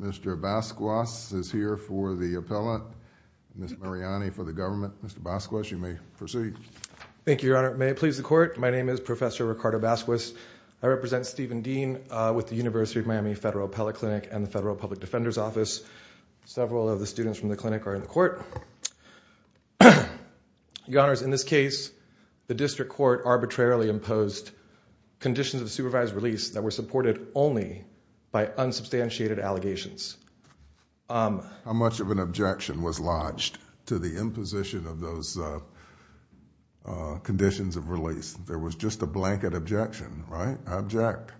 Mr. Basquez is here for the appellate. Ms. Mariani for the government. Mr. Basquez, you may proceed. Thank you, Your Honor. May it please the Court, my name is Professor Ricardo Basquez. I represent Steven Dean with the University of Miami Federal Appellate Clinic and the Federal Public Defender's Office. Your Honors, in this case, the District Court arbitrarily imposed conditions of supervised release that were supported only by unsubstantiated allegations. How much of an objection was lodged to the imposition of those conditions of release? There was just a blanket objection, right? I object.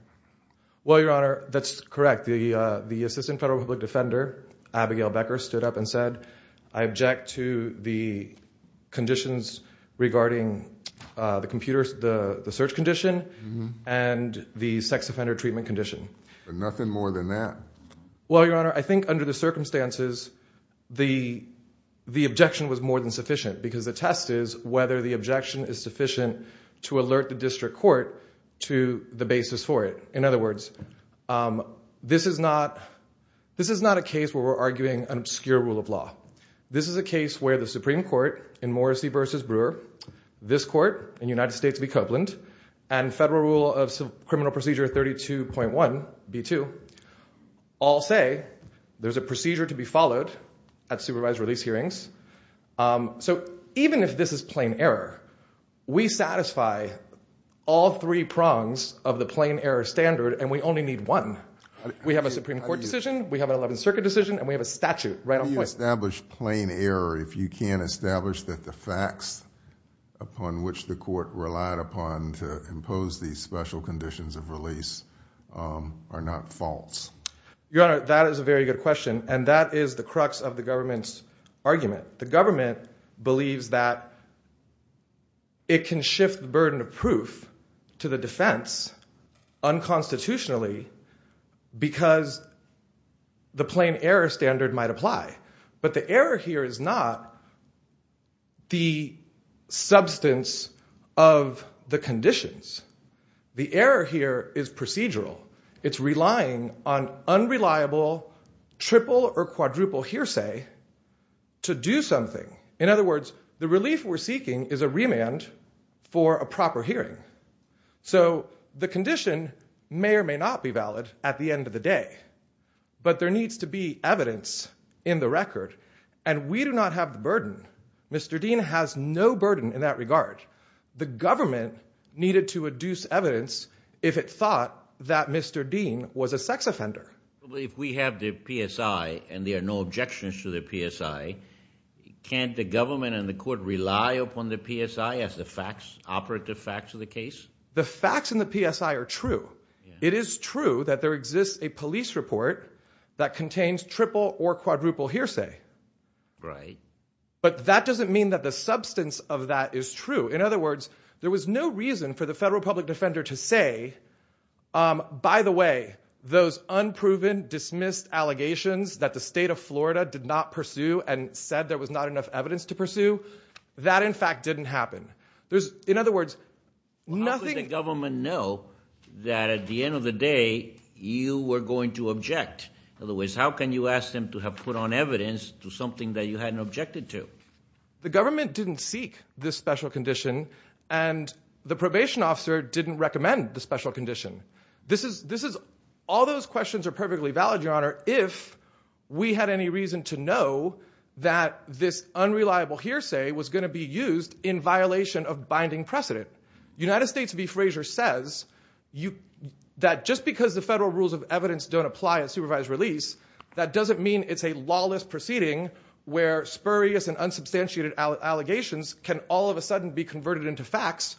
Well, Your Honor, that's correct. The Assistant Federal Public Defender, Abigail Becker, stood up and said, I object to the conditions regarding the search condition and the sex offender treatment condition. But nothing more than that. Well, Your Honor, I think under the circumstances, the objection was more than sufficient because the test is whether the objection is sufficient to alert the District Court to the basis for it. In other words, this is not a case where we're arguing an obscure rule of law. This is a case where the Supreme Court in Morrissey v. Brewer, this Court in United States v. Copeland, and Federal Rule of Criminal Procedure 32.1b2 all say there's a procedure to be followed at supervised release hearings. So even if this is plain error, we satisfy all three prongs of the plain error standard, and we only need one. We have a Supreme Court decision, we have an 11th Circuit decision, and we have a statute. How do you establish plain error if you can't establish that the facts upon which the Court relied upon to impose these special conditions of release are not false? Your Honor, that is a very good question, and that is the crux of the government's argument. The government believes that it can shift the burden of proof to the defense unconstitutionally because the plain error standard might apply. But the error here is not the substance of the conditions. The error here is procedural. It's relying on unreliable triple or quadruple hearsay to do something. In other words, the relief we're seeking is a remand for a proper hearing. So the condition may or may not be valid at the end of the day, but there needs to be evidence in the record, and we do not have the burden. Mr. Dean has no burden in that regard. The government needed to adduce evidence if it thought that Mr. Dean was a sex offender. If we have the PSI and there are no objections to the PSI, can't the government and the Court rely upon the PSI as the facts, operative facts of the case? The facts in the PSI are true. It is true that there exists a police report that contains triple or quadruple hearsay. Right. But that doesn't mean that the substance of that is true. In other words, there was no reason for the federal public defender to say, by the way, those unproven, dismissed allegations that the state of Florida did not pursue and said there was not enough evidence to pursue, that, in fact, didn't happen. There's, in other words, nothing... How could the government know that at the end of the day, you were going to object? In other words, how can you ask them to have put on evidence to something that you hadn't objected to? The government didn't seek this special condition, and the probation officer didn't recommend the special condition. All those questions are perfectly valid, Your Honor, if we had any reason to know that this unreliable hearsay was going to be used in violation of binding precedent. United States v. Fraser says that just because the federal rules of evidence don't apply at supervised release, that doesn't mean it's a lawless proceeding where spurious and unsubstantiated allegations can all of a sudden be converted into facts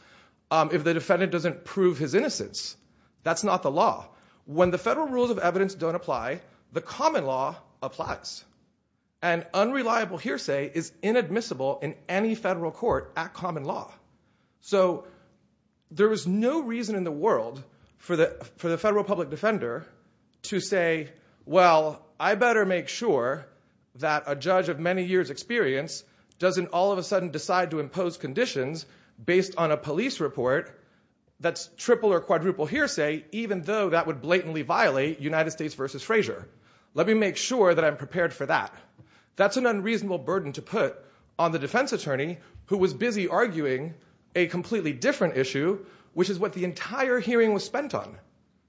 if the defendant doesn't prove his innocence. That's not the law. When the federal rules of evidence don't apply, the common law applies. And unreliable hearsay is inadmissible in any federal court at common law. So there is no reason in the world for the federal public defender to say, well, I better make sure that a judge of many years' experience doesn't all of a sudden decide to impose conditions based on a police report that's triple or quadruple hearsay, even though that would blatantly violate United States v. Fraser. Let me make sure that I'm prepared for that. That's an unreasonable burden to put on the defense attorney who was busy arguing a completely different issue, which is what the entire hearing was spent on.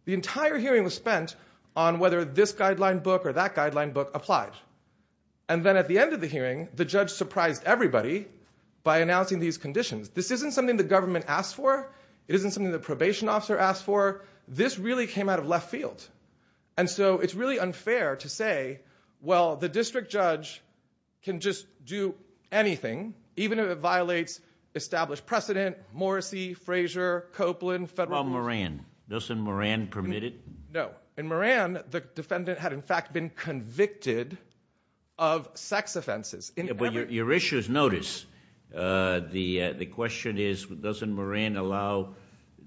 The entire hearing was spent on whether this guideline book or that guideline book applied. And then at the end of the hearing, the judge surprised everybody by announcing these conditions. This isn't something the government asked for. It isn't something the probation officer asked for. This really came out of left field. And so it's really unfair to say, well, the district judge can just do anything, even if it violates established precedent, Morrissey, Fraser, Copeland, federal- Well, Moran. Doesn't Moran permit it? No. In Moran, the defendant had, in fact, been convicted of sex offenses. But your issue is notice. The question is, doesn't Moran allow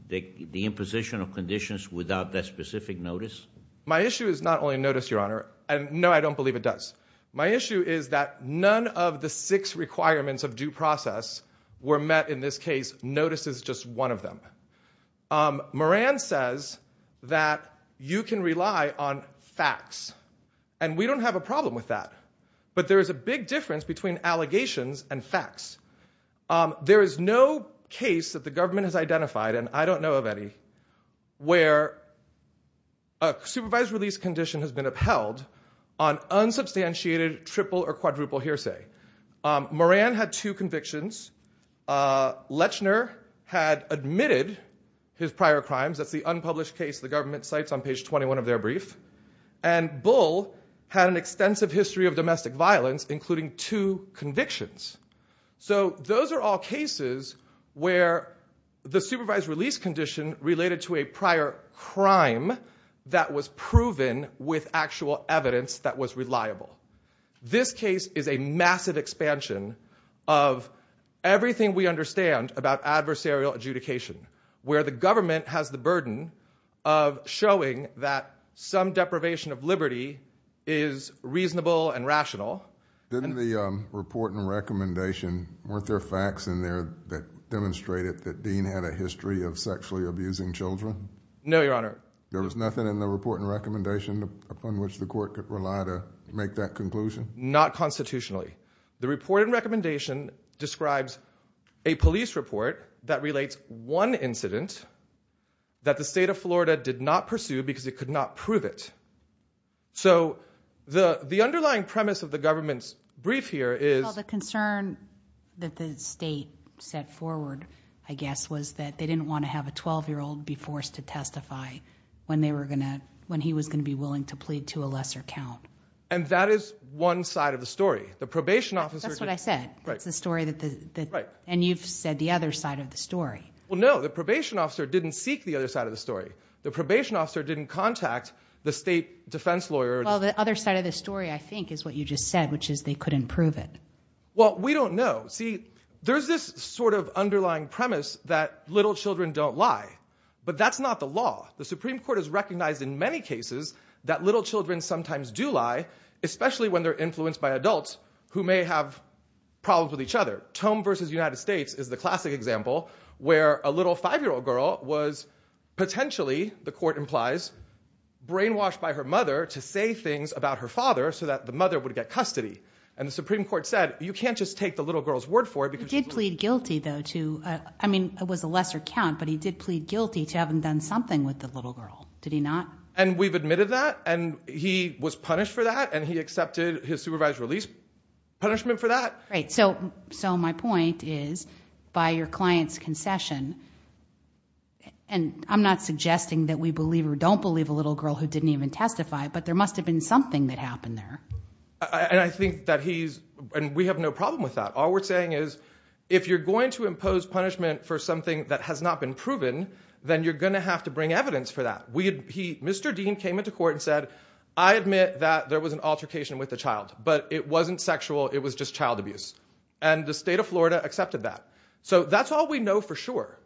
the imposition of conditions without that specific notice? My issue is not only notice, your honor. And no, I don't believe it does. My issue is that none of the six requirements of due process were met in this case. Notice is just one of them. Moran says that you can rely on facts. And we don't have a problem with that. But there is a big difference between allegations and facts. There is no case that the government has identified, and I don't know of any, where a supervised release condition has been upheld on unsubstantiated triple or quadruple hearsay. Moran had two convictions. Lechner had admitted his prior crimes. That's the unpublished case the government cites on page 21 of their brief. And Bull had an extensive history of domestic violence, including two convictions. So those are all cases where the supervised release condition related to a prior crime that was proven with actual evidence that was reliable. This case is a massive expansion of everything we understand about adversarial adjudication, where the government has the burden of showing that some deprivation of liberty is reasonable and rational. Didn't the report and recommendation, weren't there facts in there that demonstrated that Dean had a history of sexually abusing children? No, Your Honor. There was nothing in the report and recommendation upon which the court could rely to make that conclusion? Not constitutionally. The report and recommendation describes a police report that relates one incident that the state of Florida did not pursue because it could not prove it. So the underlying premise of the government's brief here is- Well, the concern that the state set forward, I guess, was that they didn't want to have a 12-year-old be forced to testify when he was going to be willing to plead to a lesser count. And that is one side of the story. That's what I said. That's the story that- And you've said the other side of the story. Well, no, the probation officer didn't seek the other side of the story. The probation officer didn't contact the state defense lawyer. Well, the other side of the story, I think, is what you just said, which is they couldn't prove it. Well, we don't know. See, there's this sort of underlying premise that little children don't lie. But that's not the law. The Supreme Court has recognized in many cases that little children sometimes do lie, especially when they're influenced by adults who may have problems with each other. Tome v. United States is the classic example where a little five-year-old girl was potentially, the court implies, brainwashed by her mother to say things about her father so that the mother would get custody. And the Supreme Court said, you can't just take the little girl's word for it because- He did plead guilty, though, to- I mean, it was a lesser count, but he did plead guilty to having done something with the little girl. Did he not? And we've admitted that. And he was punished for that. And he accepted his supervised release punishment for that. Right. So my point is, by your client's concession, and I'm not suggesting that we believe or don't believe a little girl who didn't even testify, but there must have been something that happened there. And I think that he's- and we have no problem with that. All we're saying is, if you're going to impose punishment for something that has not been proven, then you're going to have to bring evidence for that. Mr. Dean came into court and said, I admit that there was an altercation with the child, but it wasn't sexual. It was just child abuse. And the state of Florida accepted that. So that's all we know for sure.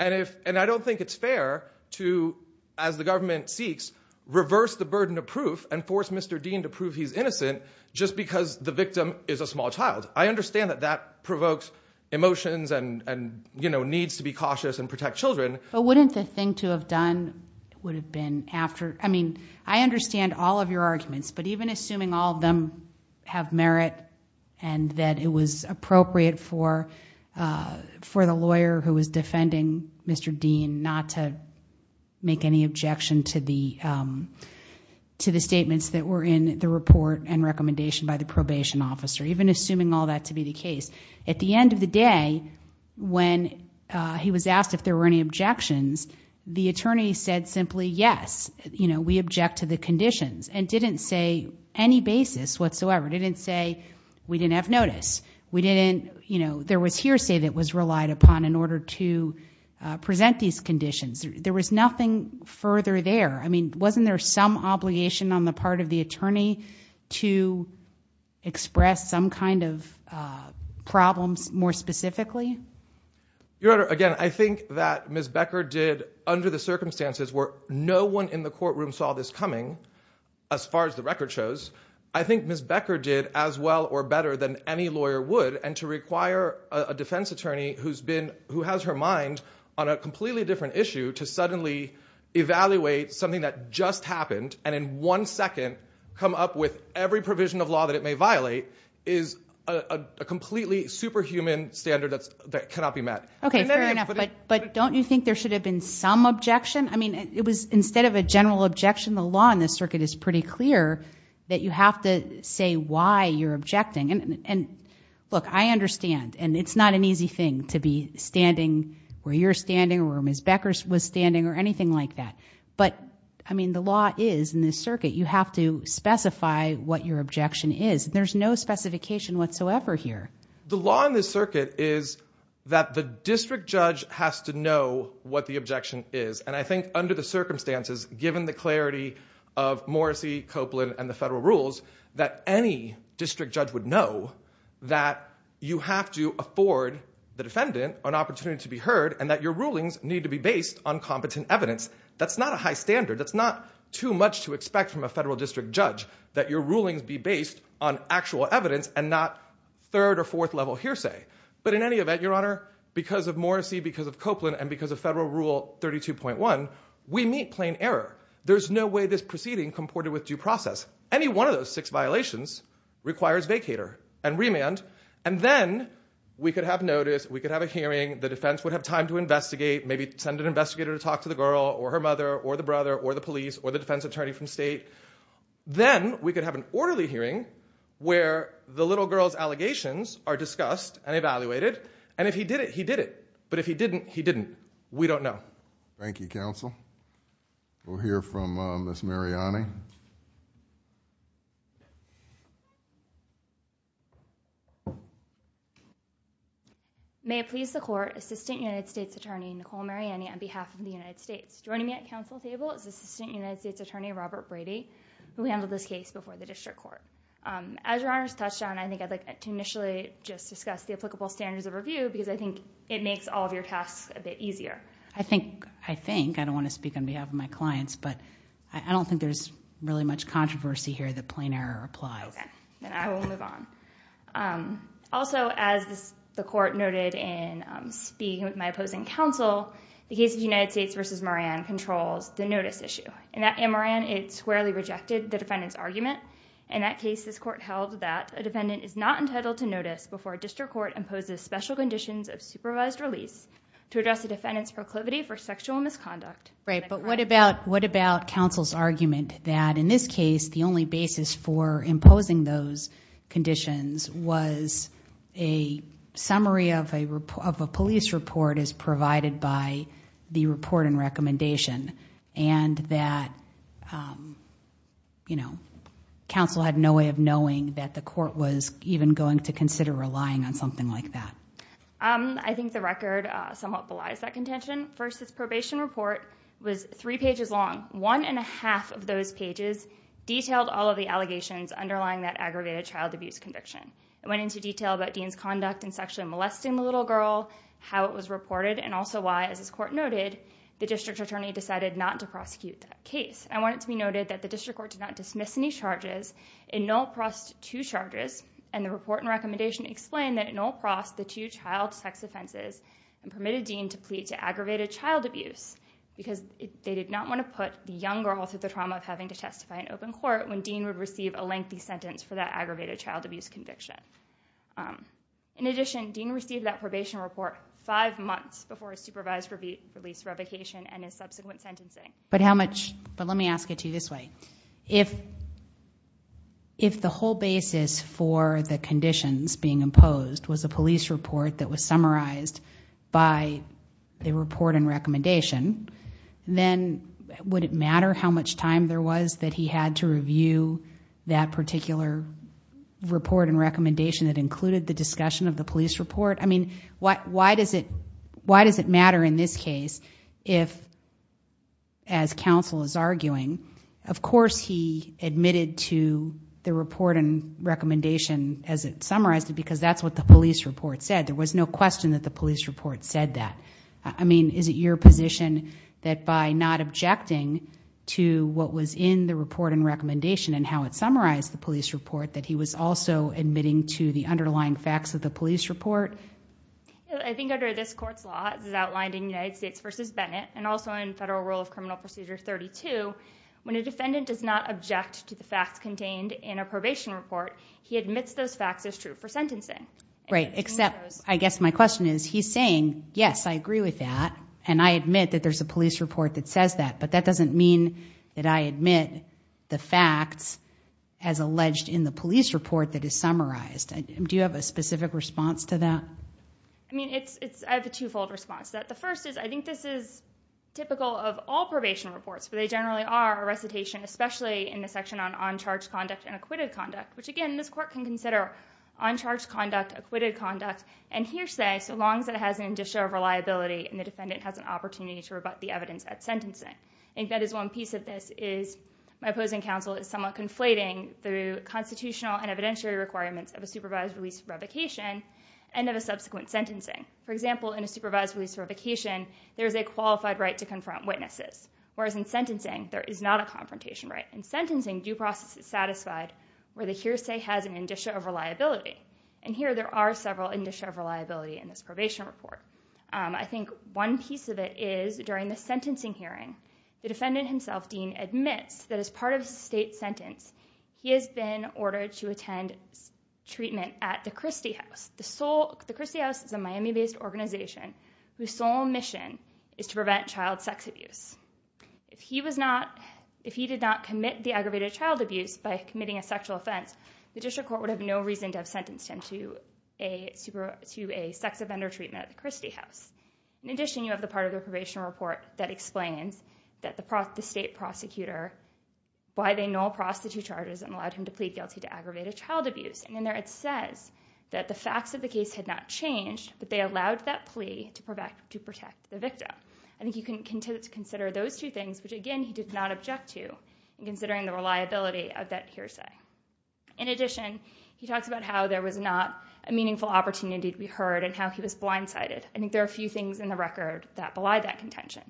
And I don't think it's fair to, as the government seeks, reverse the burden of proof and force Mr. Dean to prove he's innocent just because the victim is a small child. I understand that that provokes emotions and needs to be cautious and protect children. But wouldn't the thing to have done would have been after- I mean, I understand all of your arguments, but even assuming all of them have merit, and that it was appropriate for the lawyer who was defending Mr. Dean not to make any objection to the statements that were in the report and recommendation by the probation officer, even assuming all that to be the case. At the end of the day, when he was asked if there were any objections, the attorney said simply, yes, we object to the conditions, and didn't say any basis whatsoever. Didn't say we didn't have notice. We didn't- there was hearsay that was relied upon in order to present these conditions. There was nothing further there. I mean, wasn't there some obligation on the part of the attorney to express some kind of problems more specifically? Your Honor, again, I think that Ms. Becker did under the circumstances where no one in the courtroom saw this coming, as far as the record shows, I think Ms. Becker did as well or better than any lawyer would and to require a defense attorney who has her mind on a completely different issue to suddenly evaluate something that just happened and in one second come up with every provision of law that it may violate is a completely superhuman standard that cannot be met. Okay, fair enough. But don't you think there should have been some objection? I mean, it was instead of a general objection, the law in this circuit is pretty clear that you have to say why you're objecting. And look, I understand. And it's not an easy thing to be standing where you're standing or where Ms. Becker was standing or anything like that. But I mean, the law is in this circuit, you have to specify what your objection is. There's no specification whatsoever here. The law in this circuit is that the district judge has to know what the objection is. And I think under the circumstances, given the clarity of Morrissey, Copeland and the federal rules, that any district judge would know that you have to afford the defendant an opportunity to be heard and that your rulings need to be based on competent evidence. That's not a high standard. That's not too much to expect from a federal district judge that your rulings be based on actual evidence and not third or fourth level hearsay. But in any event, Your Honor, because of Morrissey, because of Copeland and because of federal rule 32.1, we meet plain error. There's no way this proceeding comported with due process. Any one of those six violations requires vacator and remand. And then we could have notice, we could have a hearing, the defense would have time to investigate, maybe send an investigator to talk to the girl or her mother or the brother or the police or the defense attorney from state. Then we could have an orderly hearing where the little girl's allegations are discussed and evaluated. And if he did it, he did it. But if he didn't, he didn't. We don't know. Thank you, counsel. We'll hear from Miss Mariani. May it please the court, Assistant United States Attorney Nicole Mariani on behalf of the United States. Joining me at counsel table is Assistant United States Attorney Robert Brady, who handled this case before the district court. As Your Honor's touched on, I think I'd like to initially just discuss the applicable standards of review because I think it makes all of your tasks a bit easier. I think, I think. I don't want to speak on behalf of my clients, but I don't think there's really much controversy here that plain error applies. Okay, then I will move on. Also, as the court noted in speaking with my opposing counsel, the case of United States versus Moran controls the notice issue. In that Moran, it squarely rejected the defendant's argument. In that case, this court held that a defendant is not entitled to notice before a district court imposes special conditions of supervised release to address the defendant's proclivity for sexual misconduct. Right, but what about, what about counsel's argument that in this case, the only basis for imposing those conditions was a summary of a police report as provided by the report and recommendation and that, you know, counsel had no way of knowing that the court was even going to consider relying on something like that? I think the record somewhat belies that contention. First, this probation report was three pages long. One and a half of those pages detailed all of the allegations underlying that aggravated child abuse conviction. It went into detail about Dean's conduct in sexually molesting the little girl, how it was reported, and also why, as this court noted, the district attorney decided not to prosecute that case. I want it to be noted that the district court did not dismiss any charges. It null-prossed two charges and the report and recommendation explained that it null-prossed the two child sex offenses and permitted Dean to plead to aggravated child abuse because they did not want to put the young girl through the trauma of having to testify in open court when Dean would receive a lengthy sentence for that aggravated child abuse conviction. In addition, Dean received that probation report five months before his supervised release revocation and his subsequent sentencing. But how much... But let me ask it to you this way. If the whole basis for the conditions being imposed was a police report that was summarized by the report and recommendation, then would it matter how much time there was that he had to review that particular report and recommendation that included the discussion of the police report? I mean, why does it matter in this case if, as counsel is arguing, of course he admitted to the report and recommendation as it summarized it, because that's what the police report said. There was no question that the police report said that. I mean, is it your position that by not objecting to what was in the report and recommendation and how it summarized the police report that he was also admitting to the underlying facts of the police report? I think under this court's law, as outlined in United States v. Bennett and also in Federal Rule of Criminal Procedure 32, when a defendant does not object to the facts contained in a probation report, he admits those facts as true for sentencing. Right, except I guess my question is, he's saying, yes, I agree with that and I admit that there's a police report that says that, but that doesn't mean that I admit the facts as alleged in the police report that is summarized. Do you have a specific response to that? I mean, I have a twofold response to that. The first is, I think this is typical of all probation reports, but they generally are a recitation, especially in the section on on-charge conduct and acquitted conduct, which again, this court can consider on-charge conduct, acquitted conduct, and hearsay so long as it has an initial reliability and the defendant has an opportunity to rebut the evidence at sentencing. I think that is one piece of this, is my opposing counsel is somewhat conflating through constitutional and evidentiary requirements of a supervised release for revocation and of a subsequent sentencing. For example, in a supervised release for revocation, there is a qualified right to confront witnesses, whereas in sentencing, there is not a confrontation right. In sentencing, due process is satisfied where the hearsay has an initial reliability. And here there are several initial reliability in this probation report. I think one piece of it is, during the sentencing hearing, the defendant himself, Dean, admits that as part of the state sentence, he has been ordered to attend treatment at the Christie House. The Christie House is a Miami-based organization whose sole mission is to prevent child sex abuse. If he did not commit the aggravated child abuse by committing a sexual offense, the district court would have no reason to have sentenced him to a sex offender treatment at the Christie House. In addition, you have the part of the probation report that explains that the state prosecutor, why they null prostitute charges and allowed him to plead guilty to aggravated child abuse. And in there it says that the facts of the case had not changed, but they allowed that plea to protect the victim. I think you can consider those two things, which again, he did not object to, in considering the reliability of that hearsay. In addition, he talks about how there was not a meaningful opportunity to be heard and how he was blindsided. I think there are a few things in the record that belie that contention.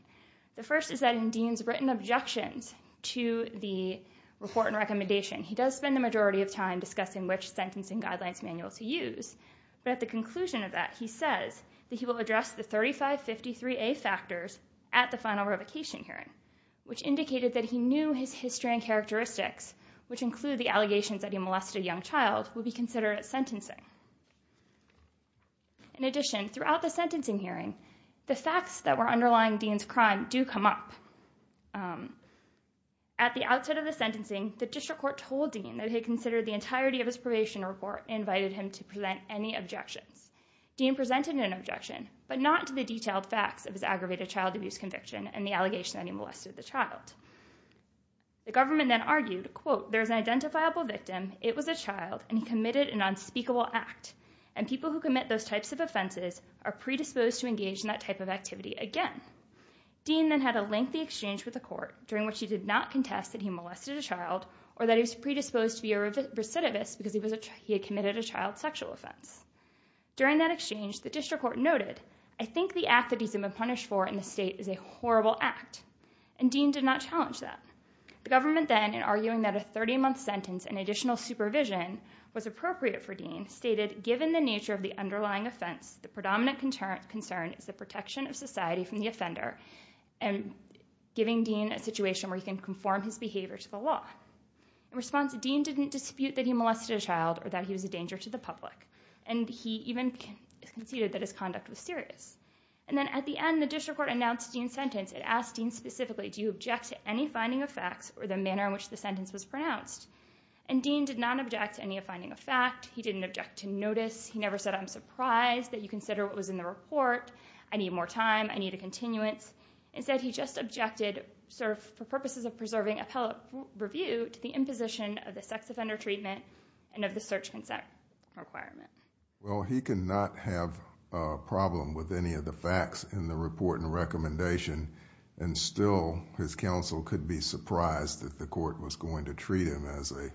The first is that in Dean's written objections to the report and recommendation, he does spend the majority of time discussing which sentencing guidelines manuals to use. But at the conclusion of that, he says that he will address the 3553A factors at the final revocation hearing, which indicated that he knew his history and characteristics, which include the allegations that he molested a young child, would be considered sentencing. In addition, throughout the sentencing hearing, the facts that were underlying Dean's crime do come up. At the outset of the sentencing, the district court told Dean that he considered the entirety of his probation report and invited him to present any objections. Dean presented an objection, but not to the detailed facts of his aggravated child abuse conviction and the allegation that he molested the child. The government then argued, quote, there's an identifiable victim, it was a child and he committed an unspeakable act. And people who commit those types of offenses are predisposed to engage in that type of activity again. Dean then had a lengthy exchange with the court during which he did not contest that he molested a child or that he was predisposed to be a recidivist because he had committed a child sexual offense. During that exchange, the district court noted, I think the act that he's been punished for in the state is a horrible act. And Dean did not challenge that. The government then, in arguing that a 30-month sentence and additional supervision was appropriate for Dean, stated, given the nature of the underlying offense, the predominant concern is the protection of society from the offender and giving Dean a situation where he can conform his behavior to the law. In response, Dean didn't dispute that he molested a child or that he was a danger to the public. And he even conceded that his conduct was serious. And then at the end, the district court announced Dean's sentence and asked Dean specifically, do you object to any finding of facts or the manner in which the sentence was pronounced? And Dean did not object to any finding of fact. He didn't object to notice. He never said, I'm surprised that you consider what was in the report. I need more time. I need a continuance. Instead, he just objected, served for purposes of preserving appellate review to the imposition of the sex offender treatment and of the search consent requirement. Well, he could not have a problem with any of the facts in the report and recommendation. And still, his counsel could be surprised that the court was going to treat him as a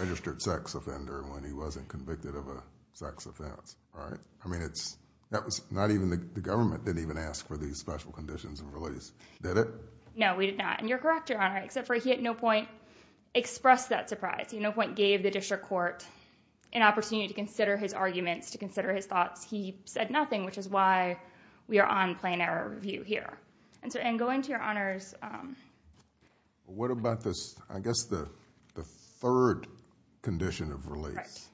registered sex offender when he wasn't convicted of a sex offense, right? I mean, that was not even the government didn't even ask for these special conditions and release. Did it? No, we did not. And you're correct, Your Honor, except for he at no point expressed that surprise. He at no point gave the district court an opportunity to consider his arguments, to consider his thoughts. He said nothing, which is why we are on plain error review here. And so, and going to Your Honor's... What about this? I guess the third condition of release.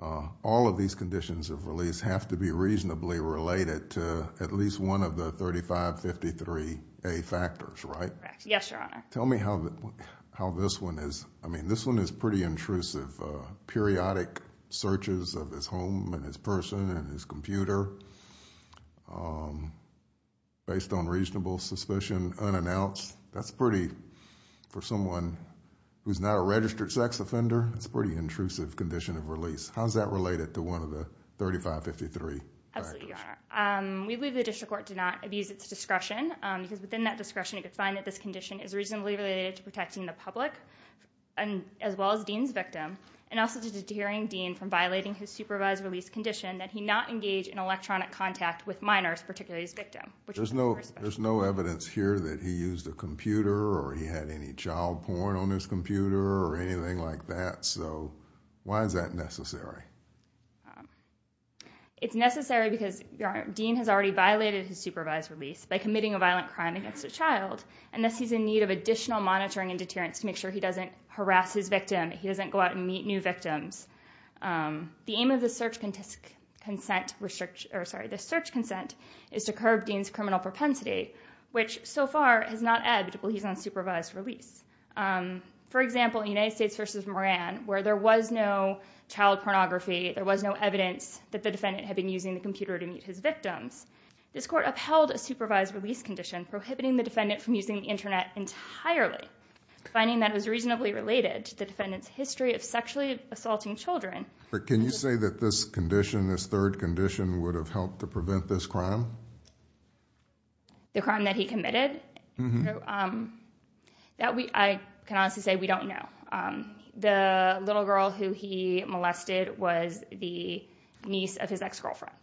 All of these conditions of release have to be reasonably related to at least one of the 3553A factors, right? Correct. Yes, Your Honor. Tell me how this one is. I mean, this one is pretty intrusive. Periodic searches of his home and his person and his computer based on reasonable suspicion unannounced. That's pretty, for someone who's not a registered sex offender, that's a pretty intrusive condition of release. How's that related to one of the 3553 factors? Absolutely, Your Honor. We believe the district court did not abuse its discretion because within that discretion, it could find that this condition is reasonably related to protecting the public as well as Dean's victim and also to deterring Dean from violating his supervised release condition that he not engage in electronic contact with minors, particularly his victim. There's no evidence here that he used a computer or he had any child porn on his computer or anything like that, so why is that necessary? It's necessary because, Your Honor, Dean has already violated his supervised release by committing a violent crime against a child and thus he's in need of additional monitoring and deterrence to make sure he doesn't harass his victim, he doesn't go out and meet new victims. The aim of the search consent is to curb Dean's criminal propensity, which so far has not ebbed while he's on supervised release. For example, in United States versus Moran, where there was no child pornography, there was no evidence that the defendant had been using the computer to meet his victims, this court upheld a supervised release condition, prohibiting the defendant from using the internet entirely, finding that it was reasonably related to the defendant's history of sexually assaulting children. But can you say that this condition, this third condition, would have helped to prevent this crime? The crime that he committed? I can honestly say we don't know. The little girl who he molested was the niece of his ex-girlfriend.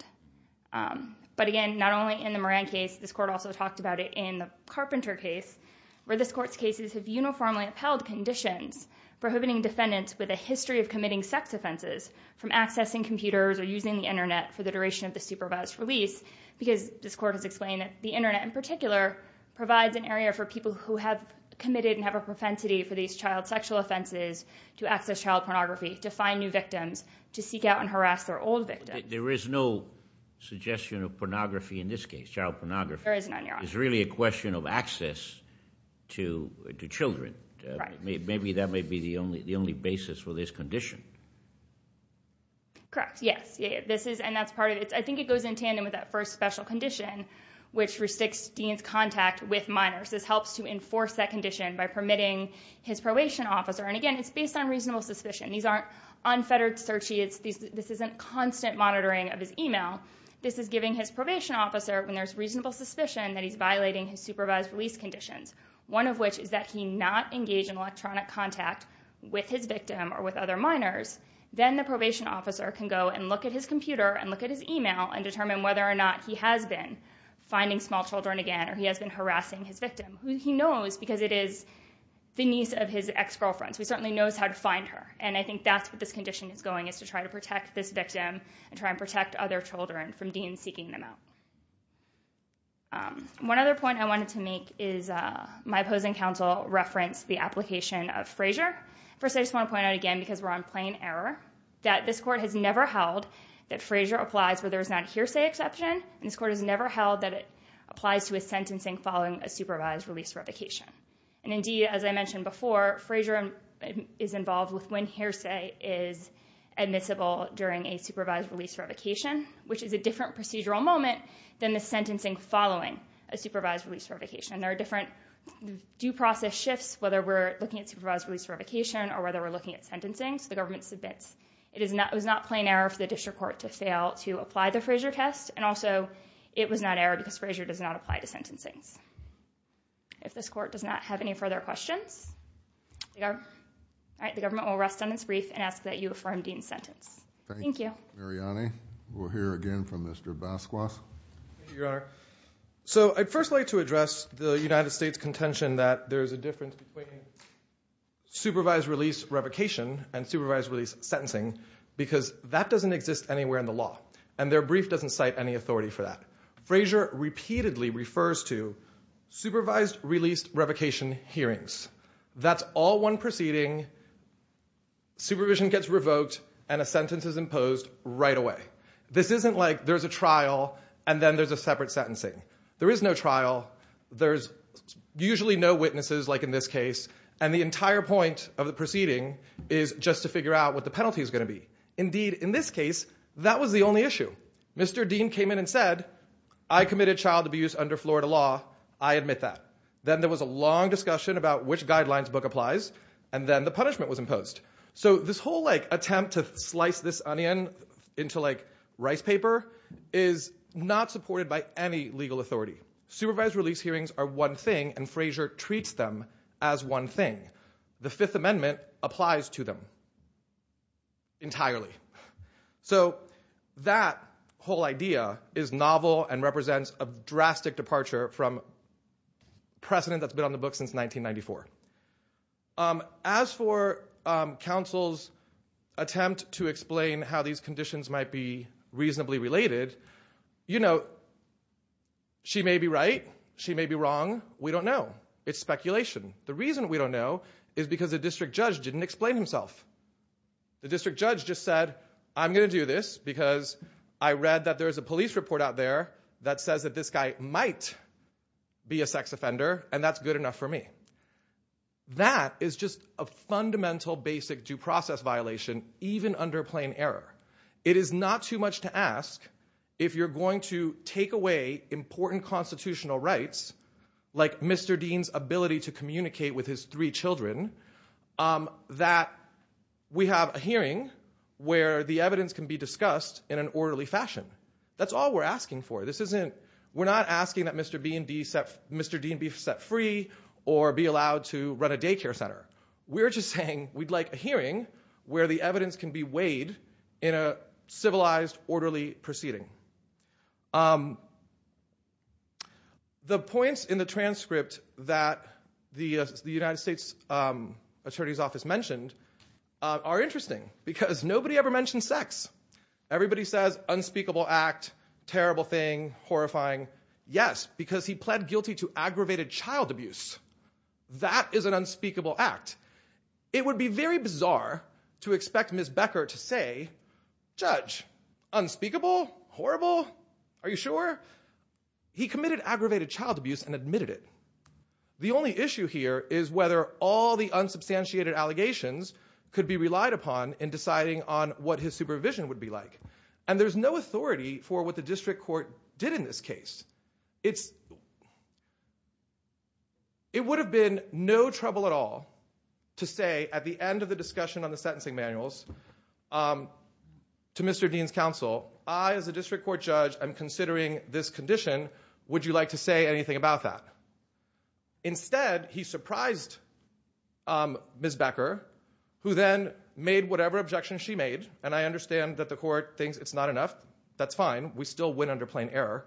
But again, not only in the Moran case, this court also talked about it in the Carpenter case, where this court's cases have uniformly upheld conditions prohibiting defendants with a history of committing sex offenses from accessing computers or using the internet for the duration of the supervised release because this court has explained the internet in particular provides an area for people who have committed and have a propensity for these child sexual offenses to access child pornography, to find new victims, to seek out and harass their old victims. There is no suggestion of pornography in this case, child pornography. There is none, Your Honor. It's really a question of access to children. Maybe that may be the only basis for this condition. Correct, yes. I think it goes in tandem with that first special condition which restricts Dean's contact with minors. This helps to enforce that condition by permitting his probation officer. And again, it's based on reasonable suspicion. These aren't unfettered searches. This isn't constant monitoring of his email. This is giving his probation officer, when there's reasonable suspicion that he's violating his supervised release conditions, one of which is that he not engage in electronic contact with his victim or with other minors. Then the probation officer can go and look at his computer and look at his email and determine whether or not he has been finding small children again or he has been harassing his victim. He knows because it is the niece of his ex-girlfriend. So he certainly knows how to find her. And I think that's what this condition is going, is to try to protect this victim and try and protect other children from Dean seeking them out. One other point I wanted to make is my opposing counsel referenced the application of Frazier. First, I just want to point out again because we're on plain error that this court has never held that Frazier applies where there is not hearsay exception. And this court has never held that it applies to a sentencing following a supervised release revocation. And indeed, as I mentioned before, Frazier is involved with when hearsay is admissible during a supervised release revocation, which is a different procedural moment than the sentencing following a supervised release revocation. There are different due process shifts, whether we're looking at supervised release revocation or whether we're looking at sentencing. So the government submits. It was not plain error for the district court to fail to apply the Frazier test. And also, it was not error because Frazier does not apply to sentencings. If this court does not have any further questions, the government will rest on its brief and ask that you affirm Dean's sentence. Thank you. Mariani, we'll hear again from Mr. Basquat. Thank you, Your Honor. So I'd first like to address the United States contention that there is a difference between supervised release revocation and supervised release sentencing, because that doesn't exist anywhere in the law. And their brief doesn't cite any authority for that. Frazier repeatedly refers to supervised release revocation hearings. That's all one proceeding. Supervision gets revoked and a sentence is imposed right away. This isn't like there's a trial and then there's a separate sentencing. There is no trial. There's usually no witnesses, like in this case. And the entire point of the proceeding is just to figure out what the penalty is going to be. Indeed, in this case, that was the only issue. Mr. Dean came in and said, I committed child abuse under Florida law. I admit that. Then there was a long discussion about which guidelines book applies. And then the punishment was imposed. So this whole like attempt to slice this onion into like rice paper is not supported by any legal authority. Supervised release hearings are one thing. And Frazier treats them as one thing. The Fifth Amendment applies to them. Entirely. So that whole idea is novel and represents a drastic departure from precedent that's been on the book since 1994. As for counsel's attempt to explain how these conditions might be reasonably related, you know, she may be right. She may be wrong. We don't know. It's speculation. The reason we don't know is because the district judge didn't explain himself. The district judge just said, I'm going to do this because I read that there is a police report out there that says that this guy might be a sex offender. And that's good enough for me. That is just a fundamental, basic due process violation, even under plain error. It is not too much to ask if you're going to take away important constitutional rights like Mr. Dean's ability to communicate with his three children that we have a hearing where the evidence can be discussed in an orderly fashion. That's all we're asking for. This isn't, we're not asking that Mr. Dean be set free or be allowed to run a daycare center. We're just saying we'd like a hearing where the evidence can be weighed in a civilized, orderly proceeding. The points in the transcript that the United States Attorney's Office mentioned are interesting because nobody ever mentioned sex. Everybody says unspeakable act, terrible thing, horrifying. Yes, because he pled guilty to aggravated child abuse. That is an unspeakable act. It would be very bizarre to expect Ms. Becker to say, Judge, unspeakable, horrible? Are you sure? He committed aggravated child abuse and admitted it. The only issue here is whether all the unsubstantiated allegations could be relied upon in deciding on what his supervision would be like. And there's no authority for what the district court did in this case. It's, it would have been no trouble at all to say at the end of the discussion on the sentencing manuals to Mr. Dean's counsel, I as a district court judge I'm considering this condition. Would you like to say anything about that? Instead, he surprised Ms. Becker who then made whatever objections she made. And I understand that the court thinks it's not enough. That's fine. We still win under plain error.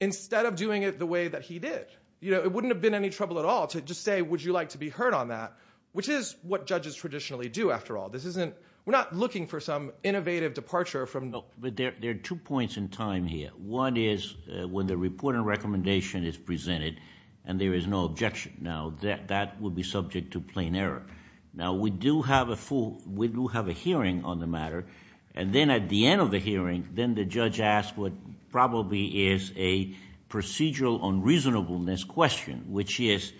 Instead of doing it the way that he did, you know, it wouldn't have been any trouble at all to just say, would you like to be heard on that? Which is what judges traditionally do after all. This isn't, we're not looking for some innovative departure from. No, but there are two points in time here. One is when the report and recommendation is presented and there is no objection. Now that would be subject to plain error. Now we do have a full, we do have a hearing on the matter. And then at the end of the hearing, then the judge asked what probably is a procedural unreasonableness question, which is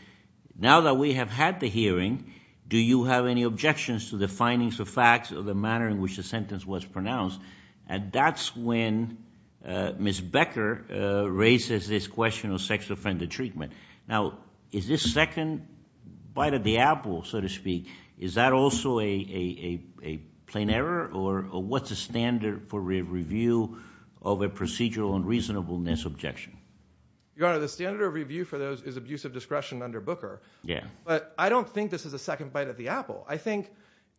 now that we have had the hearing, do you have any objections to the findings of facts or the manner in which the sentence was pronounced? And that's when Ms. Becker raises this question of sexual offender treatment. Now, is this second bite of the apple, so to speak, is that also a plain error or what's the standard for review of a procedural unreasonableness objection? Your Honor, the standard of review for those is abusive discretion under Booker. Yeah. But I don't think this is a second bite of the apple. I think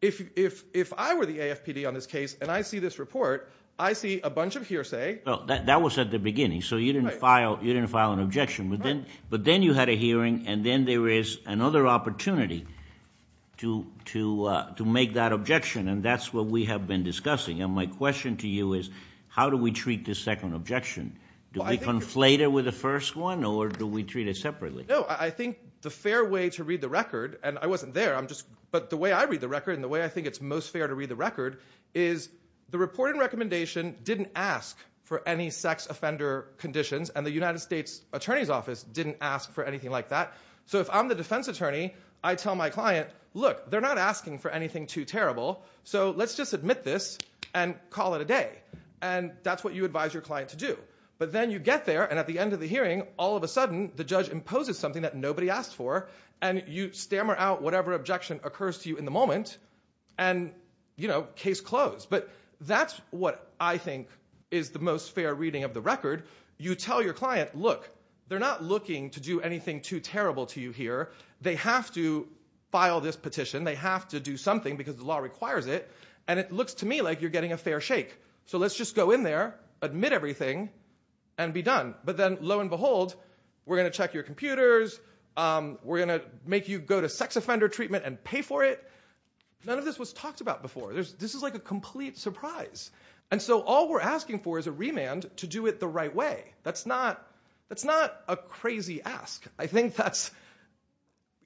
if I were the AFPD on this case and I see this report, I see a bunch of hearsay. Well, that was at the beginning. So you didn't file an objection. But then you had a hearing and then there is another opportunity to make that objection. And that's what we have been discussing. And my question to you is, how do we treat this second objection? Do we conflate it with the first one or do we treat it separately? No, I think the fair way to read the record, and I wasn't there, I'm just, but the way I read the record and the way I think it's most fair to read the record is the reporting recommendation didn't ask for any sex offender conditions and the United States Attorney's Office didn't ask for anything like that. So if I'm the defense attorney, I tell my client, look, they're not asking for anything too terrible. So let's just admit this and call it a day. And that's what you advise your client to do. But then you get there and at the end of the hearing, all of a sudden, the judge imposes something that nobody asked for and you stammer out whatever objection occurs to you in the moment. And case closed. But that's what I think is the most fair reading of the record. You tell your client, look, they're not looking to do anything too terrible to you here. They have to file this petition. They have to do something because the law requires it. And it looks to me like you're getting a fair shake. So let's just go in there, admit everything and be done. But then lo and behold, we're going to check your computers. We're going to make you go to sex offender treatment and pay for it. None of this was talked about before. This is like a complete surprise. And so all we're asking for is a remand to do it the right way. That's not a crazy ask. I think that's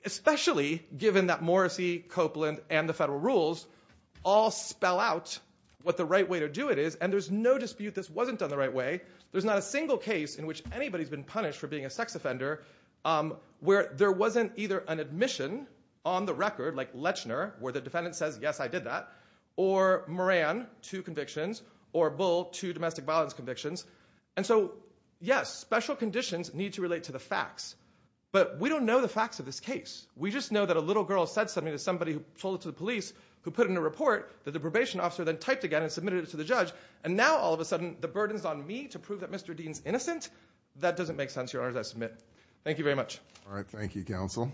especially given that Morrissey, Copeland and the federal rules all spell out what the right way to do it is. And there's no dispute this wasn't done the right way. There's not a single case in which anybody's been punished for being a sex offender where there wasn't either an admission on the record like Lechner where the defendant says, yes, I did that. Or Moran, two convictions or Bull, two domestic violence convictions. And so, yes, special conditions need to relate to the facts. But we don't know the facts of this case. We just know that a little girl said something to somebody who told it to the police who put in a report that the probation officer then typed again and submitted it to the judge. And now all of a sudden the burden's on me to prove that Mr. Dean's innocent. That doesn't make sense, Your Honor, as I submit. Thank you very much. All right. Thank you, counsel. Thank you.